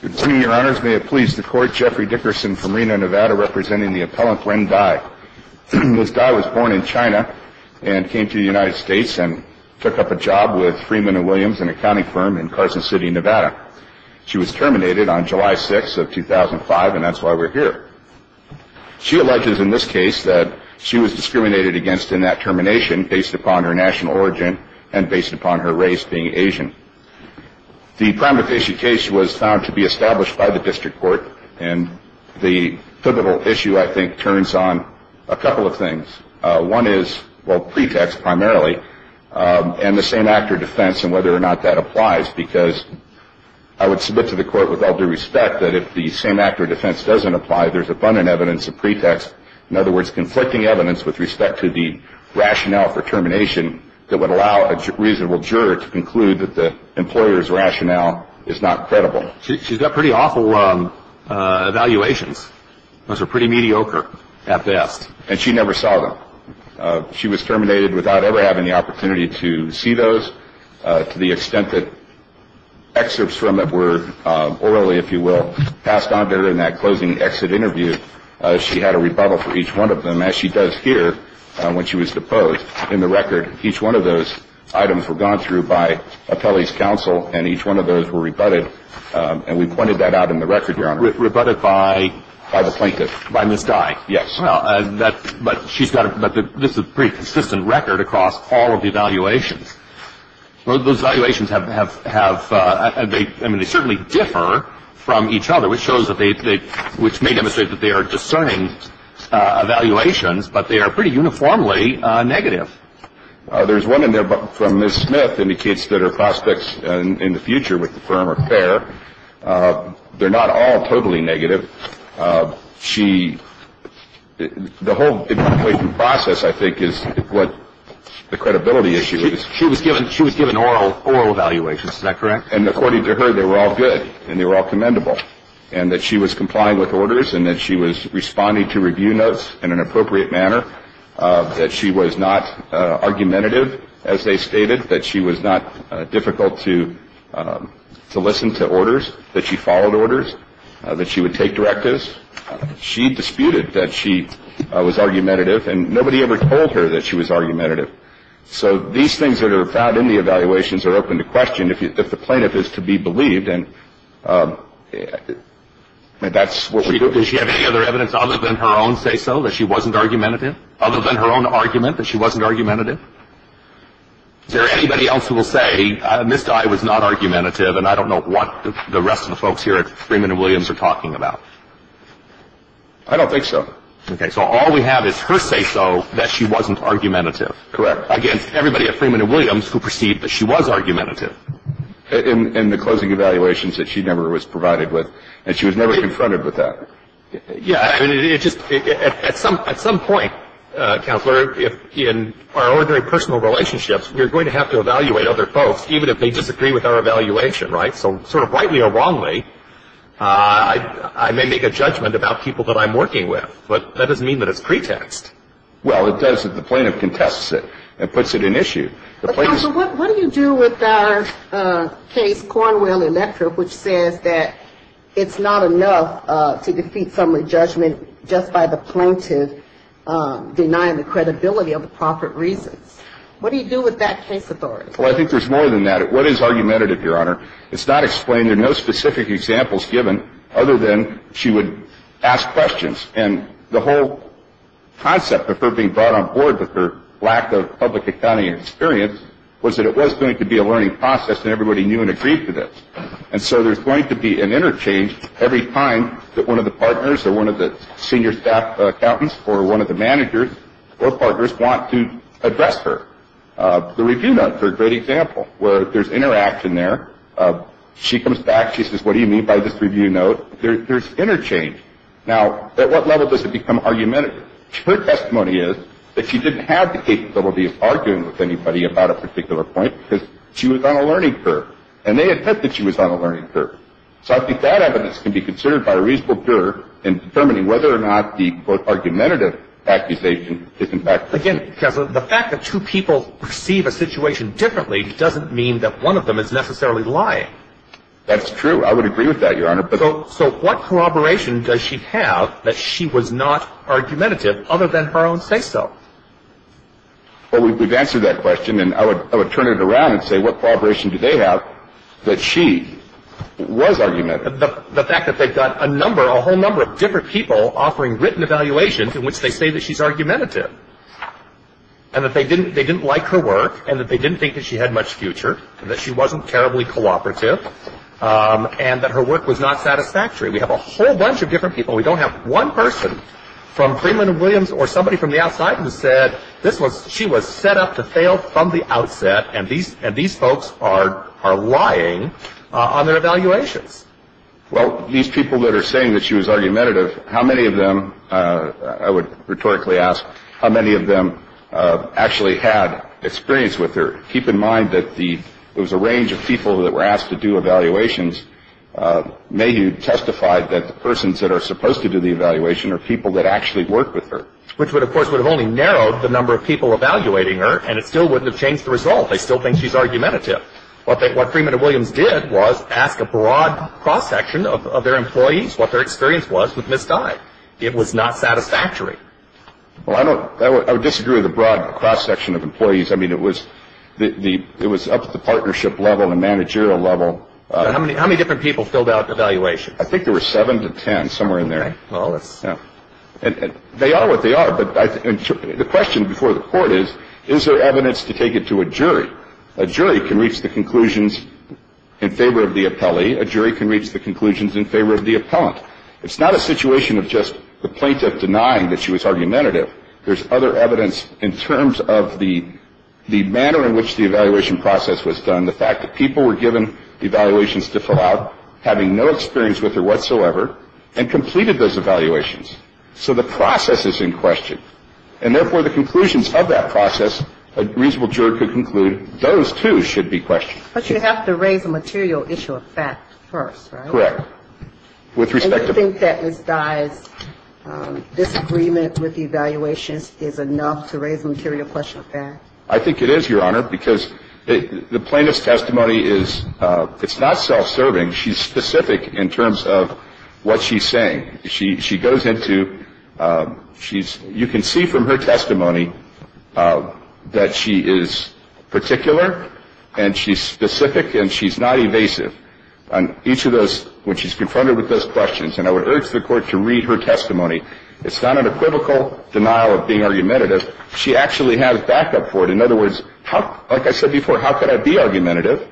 Good evening, your honors. May it please the court, Jeffrey Dickerson from Reno, Nevada, representing the appellant Wen Dai. Ms. Dai was born in China and came to the United States and took up a job with Freeman & Williams, an accounting firm in Carson City, Nevada. She was terminated on July 6th of 2005, and that's why we're here. She alleges in this case that she was discriminated against in that termination based upon her national origin and based upon her race being Asian. The primary case was found to be established by the district court, and the pivotal issue, I think, turns on a couple of things. One is, well, pretext primarily, and the same-actor defense and whether or not that applies, because I would submit to the court with all due respect that if the same-actor defense doesn't apply, there's abundant evidence of pretext, in other words, conflicting evidence with respect to the rationale for termination that would allow a reasonable juror to conclude that the employer's rationale is not credible. She's got pretty awful evaluations. Those are pretty mediocre at best. And she never saw them. She was terminated without ever having the opportunity to see those. To the extent that excerpts from it were orally, if you will, passed on to her in that closing exit interview, she had a rebuttal for each one of them, as she does here when she was deposed. In the record, each one of those items were gone through by appellee's counsel, and each one of those were rebutted. And we pointed that out in the record, Your Honor. Rebutted by? By the plaintiff. By Ms. Dye. Yes. Well, but she's got a pretty consistent record across all of the evaluations. Well, those evaluations have – they certainly differ from each other, which shows that they – which may demonstrate that they are discerning evaluations, but they are pretty uniformly negative. There's one in there from Ms. Smith indicates that her prospects in the future with the firm are fair. They're not all totally negative. She – the whole evaluation process, I think, is what the credibility issue is. She was given oral evaluations, is that correct? And according to her, they were all good and they were all commendable, and that she was complying with orders and that she was responding to review notes in an appropriate manner, that she was not argumentative, as they stated, that she was not difficult to listen to orders, that she followed orders, that she would take directives. She disputed that she was argumentative, and nobody ever told her that she was argumentative. So these things that are found in the evaluations are open to question if the plaintiff is to be believed, and that's what we do. Does she have any other evidence other than her own say-so that she wasn't argumentative, other than her own argument that she wasn't argumentative? Is there anybody else who will say, Mr. I was not argumentative and I don't know what the rest of the folks here at Freeman & Williams are talking about? I don't think so. Okay, so all we have is her say-so that she wasn't argumentative. Correct. Against everybody at Freeman & Williams who perceived that she was argumentative. In the closing evaluations that she never was provided with, and she was never confronted with that. Yeah, at some point, counselor, in our ordinary personal relationships, we're going to have to evaluate other folks even if they disagree with our evaluation, right? So sort of rightly or wrongly, I may make a judgment about people that I'm working with, but that doesn't mean that it's pretext. Well, it does if the plaintiff contests it and puts it in issue. Counsel, what do you do with our case, Cornwell Electra, which says that it's not enough to defeat summary judgment just by the plaintiff denying the credibility of the proper reasons? What do you do with that case authority? Well, I think there's more than that. What is argumentative, Your Honor? It's not explained. There are no specific examples given other than she would ask questions. And the whole concept of her being brought on board with her lack of public accounting experience was that it was going to be a learning process and everybody knew and agreed to this. And so there's going to be an interchange every time that one of the partners or one of the senior staff accountants or one of the managers or partners want to address her. The review note's a great example where there's interaction there. She comes back. She says, What do you mean by this review note? There's interchange. Now, at what level does it become argumentative? Her testimony is that she didn't have the capability of arguing with anybody about a particular point because she was on a learning curve. And they had said that she was on a learning curve. So I think that evidence can be considered by a reasonable juror in determining whether or not the, quote, argumentative accusation is in fact correct. Again, Counsel, the fact that two people perceive a situation differently doesn't mean that one of them is necessarily lying. That's true. I would agree with that, Your Honor. So what corroboration does she have that she was not argumentative other than her own say-so? Well, we've answered that question. And I would turn it around and say what corroboration do they have that she was argumentative? The fact that they've got a number, a whole number of different people offering written evaluations in which they say that she's argumentative and that they didn't like her work and that they didn't think that she had much future and that she wasn't terribly cooperative and that her work was not satisfactory. We have a whole bunch of different people. We don't have one person from Freeman and Williams or somebody from the outside who said she was set up to fail from the outset and these folks are lying on their evaluations. Well, these people that are saying that she was argumentative, how many of them, I would rhetorically ask, how many of them actually had experience with her? Keep in mind that there was a range of people that were asked to do evaluations. Mayhew testified that the persons that are supposed to do the evaluation are people that actually worked with her. Which, of course, would have only narrowed the number of people evaluating her and it still wouldn't have changed the result. They still think she's argumentative. What Freeman and Williams did was ask a broad cross-section of their employees what their experience was with Ms. Dye. It was not satisfactory. Well, I would disagree with a broad cross-section of employees. I mean, it was up to the partnership level and managerial level. How many different people filled out evaluations? I think there were seven to ten, somewhere in there. They are what they are, but the question before the court is, is there evidence to take it to a jury? A jury can reach the conclusions in favor of the appellee. A jury can reach the conclusions in favor of the appellant. It's not a situation of just the plaintiff denying that she was argumentative. There's other evidence in terms of the manner in which the evaluation process was done, the fact that people were given evaluations to fill out, having no experience with her whatsoever, and completed those evaluations. So the process is in question. And therefore, the conclusions of that process, a reasonable juror could conclude, those, too, should be questioned. But you have to raise a material issue of fact first, right? Correct. And you think that Ms. Dye's disagreement with the evaluations is enough to raise a material question of fact? I think it is, Your Honor, because the plaintiff's testimony is not self-serving. She's specific in terms of what she's saying. She goes into you can see from her testimony that she is particular and she's specific and she's not evasive. And each of those, when she's confronted with those questions, and I would urge the Court to read her testimony, it's not an equivocal denial of being argumentative. She actually has backup for it. In other words, like I said before, how could I be argumentative?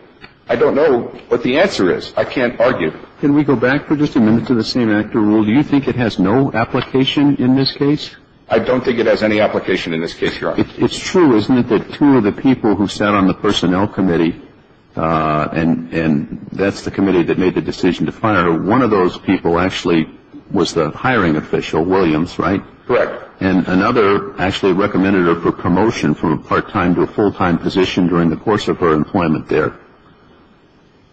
I don't know what the answer is. I can't argue. Can we go back for just a minute to the same actor rule? Do you think it has no application in this case? I don't think it has any application in this case, Your Honor. It's true, isn't it, that two of the people who sat on the personnel committee, and that's the committee that made the decision to fire her, one of those people actually was the hiring official, Williams, right? Correct. And another actually recommended her for promotion from a part-time to a full-time position during the course of her employment there.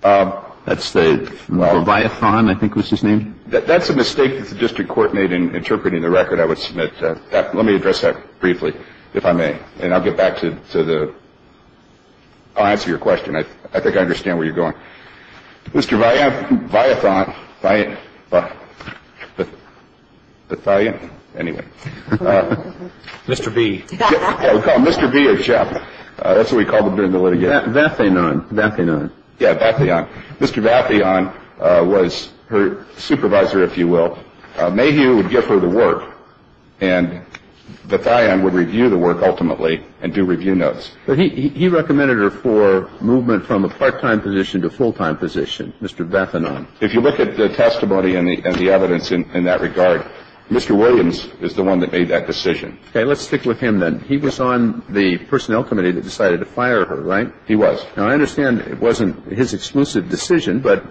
That's the Leviathan, I think was his name? That's a mistake that the district court made in interpreting the record, I would submit. Let me address that briefly, if I may. And I'll get back to the – I'll answer your question. I think I understand where you're going. Mr. Leviathan – Leviathan? Anyway. Mr. V. Yeah, we call him Mr. V of Shep. That's what we called him during the litigation. Vatheon. Vatheon. Yeah, Vatheon. Mr. Vatheon was her supervisor, if you will. Mayhew would give her the work, and Vatheon would review the work ultimately and do review notes. But he recommended her for movement from a part-time position to a full-time position, Mr. Vatheon. If you look at the testimony and the evidence in that regard, Mr. Williams is the one that made that decision. Okay. Let's stick with him then. He was on the personnel committee that decided to fire her, right? He was. Now, I understand it wasn't his exclusive decision, but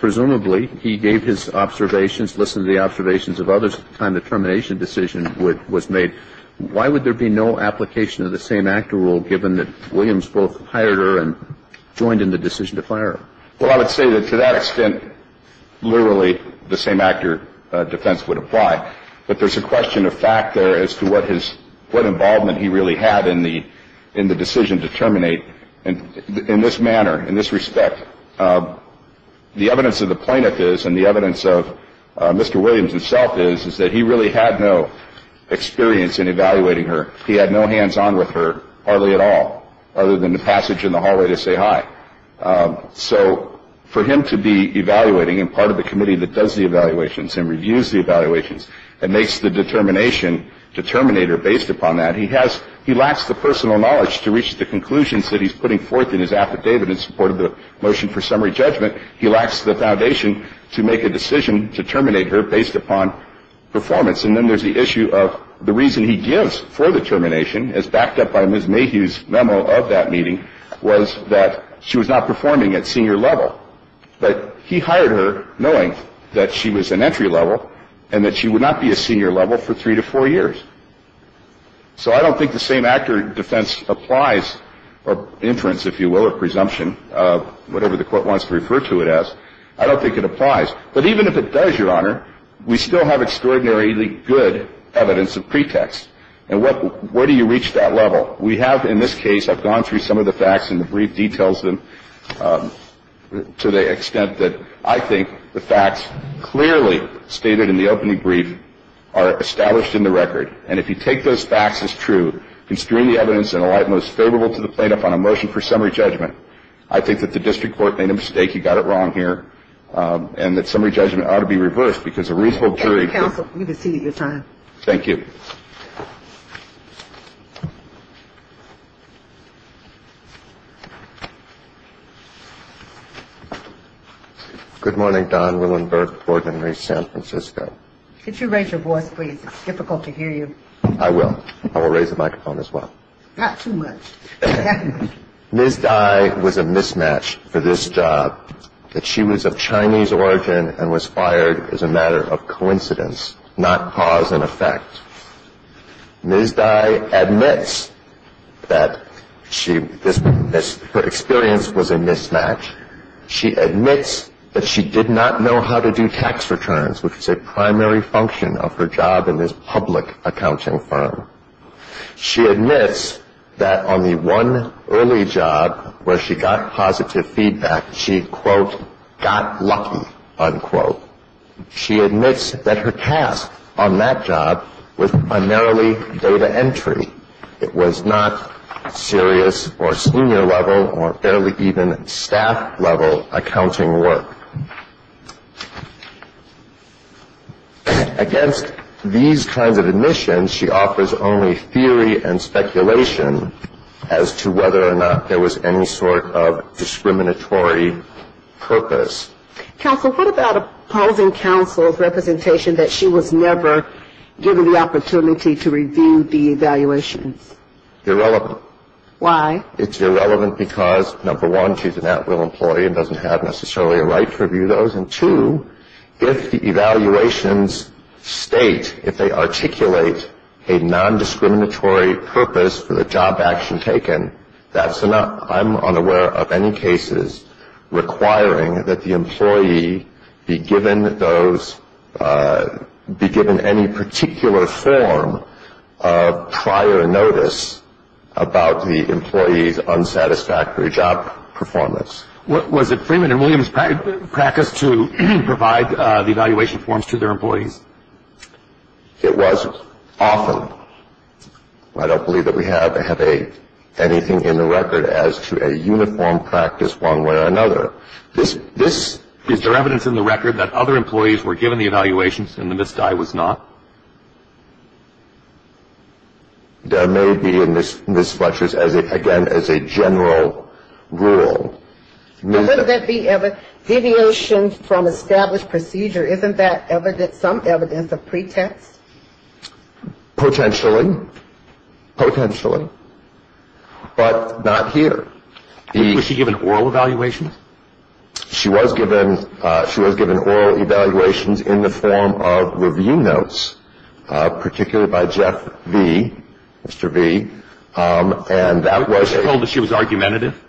presumably he gave his observations, listened to the observations of others at the time the termination decision was made. Why would there be no application of the same-actor rule, given that Williams both hired her and joined in the decision to fire her? Well, I would say that to that extent, literally, the same-actor defense would apply. But there's a question of fact there as to what involvement he really had in the decision to terminate. In this manner, in this respect, the evidence of the plaintiff is and the evidence of Mr. Williams himself is that he really had no experience in evaluating her. He had no hands-on with her, hardly at all, other than the passage in the hallway to say hi. So for him to be evaluating and part of the committee that does the evaluations and reviews the evaluations and makes the determination to terminate her based upon that, he lacks the personal knowledge to reach the conclusions that he's putting forth in his affidavit in support of the motion for summary judgment. He lacks the foundation to make a decision to terminate her based upon performance. And then there's the issue of the reason he gives for the termination, as backed up by Ms. Mayhew's memo of that meeting, was that she was not performing at senior level. But he hired her knowing that she was an entry level and that she would not be a senior level for three to four years. So I don't think the same actor defense applies, or inference, if you will, or presumption, whatever the Court wants to refer to it as. I don't think it applies. But even if it does, Your Honor, we still have extraordinarily good evidence of pretext. And what do you reach that level? We have in this case, I've gone through some of the facts and the brief details them to the extent that I think the facts clearly stated in the opening brief are established in the record. And if you take those facts as true, constrain the evidence in a light most favorable to the plaintiff on a motion for summary judgment, I think that the district court made a mistake. He got it wrong here. And that summary judgment ought to be reversed because a reasonable jury can't. Counsel, we've exceeded your time. Thank you. Thank you. Good morning, Don Willenberg, Board Member, East San Francisco. Could you raise your voice, please? It's difficult to hear you. I will. I will raise the microphone as well. Not too much. Ms. Dye was a mismatch for this job, that she was of Chinese origin and was fired as a matter of coincidence, not cause and effect. Ms. Dye admits that her experience was a mismatch. She admits that she did not know how to do tax returns, which is a primary function of her job in this public accounting firm. She admits that on the one early job where she got positive feedback, she, quote, got lucky, unquote. She admits that her task on that job was primarily data entry. It was not serious or senior-level or fairly even staff-level accounting work. Against these kinds of admissions, she offers only theory and speculation as to whether or not there was any sort of discriminatory purpose. Counsel, what about opposing counsel's representation that she was never given the opportunity to review the evaluations? Irrelevant. Why? It's irrelevant because, number one, she's an at-will employee and doesn't have necessarily a right to review those, and, two, if the evaluations state, if they articulate a non-discriminatory purpose for the job action taken, that's enough. I'm unaware of any cases requiring that the employee be given any particular form of prior notice about the employee's unsatisfactory job performance. Was it Freeman and Williams' practice to provide the evaluation forms to their employees? It was often. I don't believe that we have anything in the record as to a uniform practice one way or another. Is there evidence in the record that other employees were given the evaluations and Ms. Dye was not? There may be in Ms. Fletcher's, again, as a general rule. But wouldn't that be deviation from established procedure? Isn't that some evidence of pretext? Potentially. Potentially. But not here. Was she given oral evaluations? She was given oral evaluations in the form of review notes, particularly by Jeff V., Mr. V. Was she told that she was argumentative?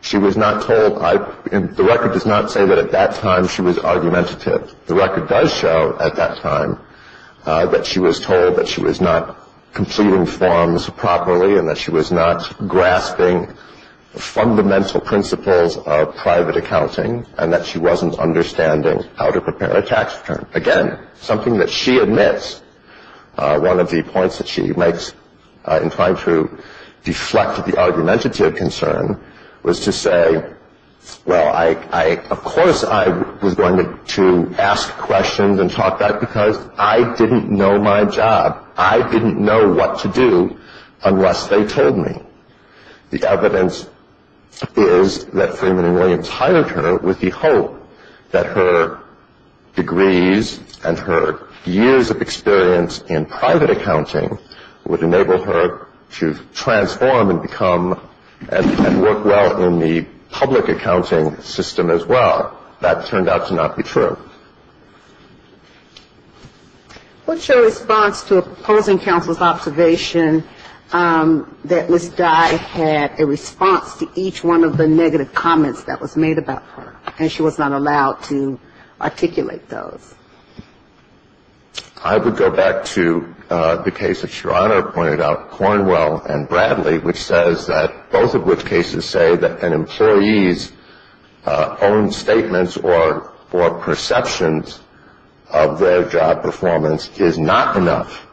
She was not told. The record does not say that at that time she was argumentative. The record does show at that time that she was told that she was not completing forms properly and that she was not grasping the fundamental principles of private accounting and that she wasn't understanding how to prepare a tax return. Again, something that she admits, one of the points that she makes in trying to deflect the argumentative concern, was to say, well, of course I was going to ask questions and talk back because I didn't know my job. I didn't know what to do unless they told me. The evidence is that Freeman and Williams hired her with the hope that her degrees and her years of experience in private accounting would enable her to transform and become and work well in the public accounting system as well. That turned out to not be true. What's your response to opposing counsel's observation that Ms. Dye had a response to each one of the negative comments that was made about her and she was not allowed to articulate those? I would go back to the case that Your Honor pointed out, Cornwell and Bradley, which says that both of which cases say that an employee's own statements or perceptions of their job performance is not enough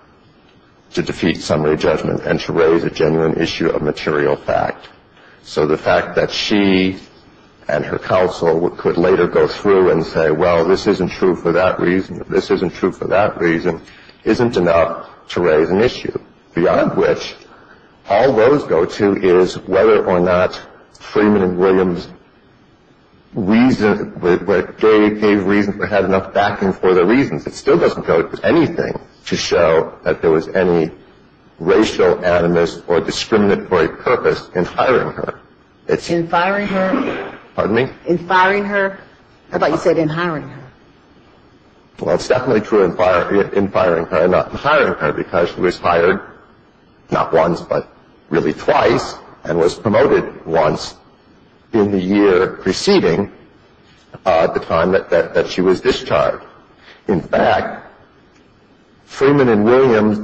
to defeat summary judgment and to raise a genuine issue of material fact. So the fact that she and her counsel could later go through and say, well, this isn't true for that reason, this isn't true for that reason, isn't enough to raise an issue. Beyond which, all those go to is whether or not Freeman and Williams gave reason or had enough backing for their reasons. It still doesn't go to anything to show that there was any racial animus or discriminatory purpose in hiring her. In firing her? Pardon me? In firing her? I thought you said in hiring her. Well, it's definitely true in firing her, not in hiring her, because she was hired not once but really twice and was promoted once in the year preceding the time that she was discharged. In fact, Freeman and Williams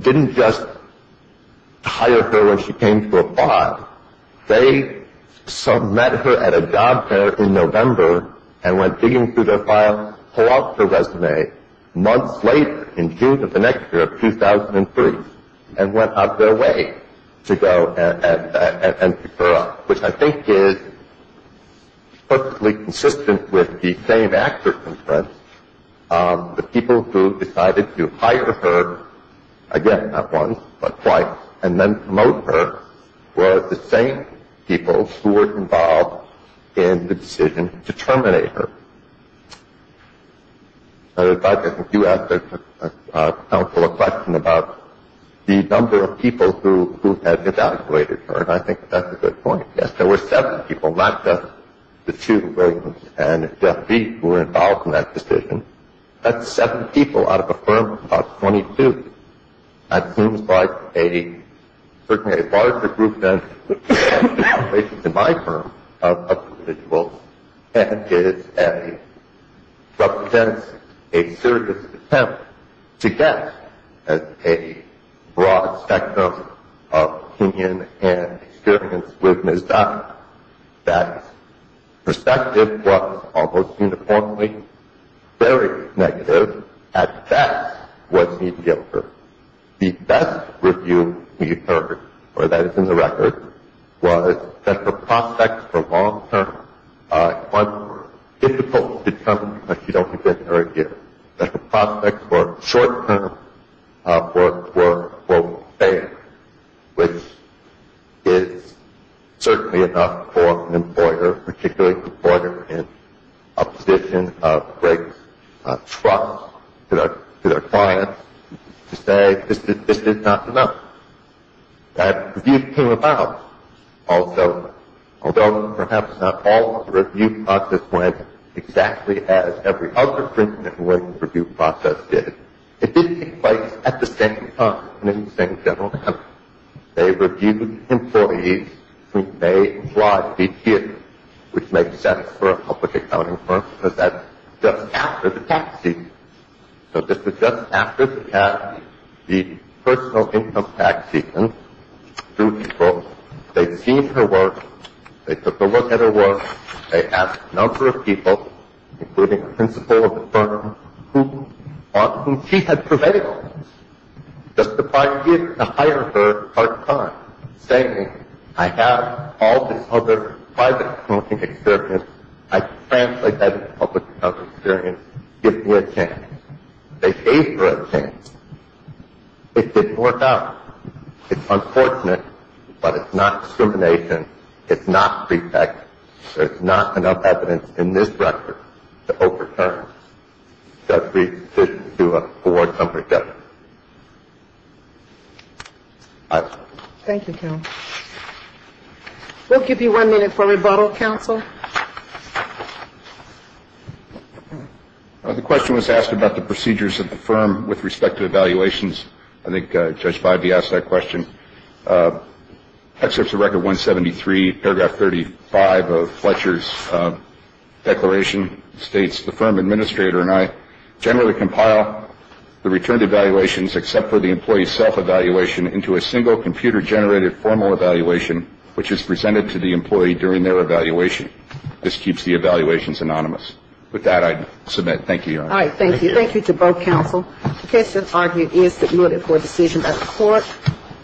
didn't just hire her when she came to apply. They met her at a job fair in November and went digging through their files, pulled out her resume months later in June of the next year, 2003, and went out their way to go and pick her up, which I think is perfectly consistent with the same actor's concerns. The people who decided to hire her, again, not once but twice, and then promote her were the same people who were involved in the decision to terminate her. And in fact, I think you asked the council a question about the number of people who had evaluated her, and I think that's a good point. Yes, there were seven people, not just the two, Williams and Jeff Beek, who were involved in that decision. That's seven people out of a firm of 22. That seems like certainly a larger group than the populations in my firm of individuals, and it represents a serious attempt to get a broad spectrum of opinion and experience with Ms. Dodd. That perspective was almost uniformly very negative. At best, it was mediocre. The best review we've heard, or that is in the record, was that her prospects for long term were difficult to determine because she'd only been here a year. Her prospects for short term were, quote, fair, which is certainly enough for an employer, in opposition of Greg's trust to their clients, to say this is not enough. That review came about also, although perhaps not all of the review process went exactly as every other print and link review process did. It did take place at the same time and in the same general manner. They reviewed employees who may apply to be here, which makes sense for a public accounting firm because that's just after the tax season. So this was just after the personal income tax season. Two people, they'd seen her work, they took a look at her work, they asked a number of people, including the principal of the firm on whom she had prevailed, just to buy a gig to hire her part-time, saying, I have all this other private accounting experience, I translate that into public accounting experience, give me a chance. They gave her a chance. It didn't work out. It's unfortunate, but it's not discrimination. It's not prefect. It's not enough evidence in this record to overturn the decision to award company debt. Thank you, Counsel. We'll give you one minute for rebuttal, Counsel. The question was asked about the procedures of the firm with respect to evaluations. Excerpts of Record 173, Paragraph 35 of Fletcher's declaration states, the firm administrator and I generally compile the returned evaluations, except for the employee's self-evaluation, into a single computer-generated formal evaluation, which is presented to the employee during their evaluation. This keeps the evaluations anonymous. With that, I submit. Thank you, Your Honor. All right. Thank you. Thank you to both counsel. The case has argued and is submitted for decision at court.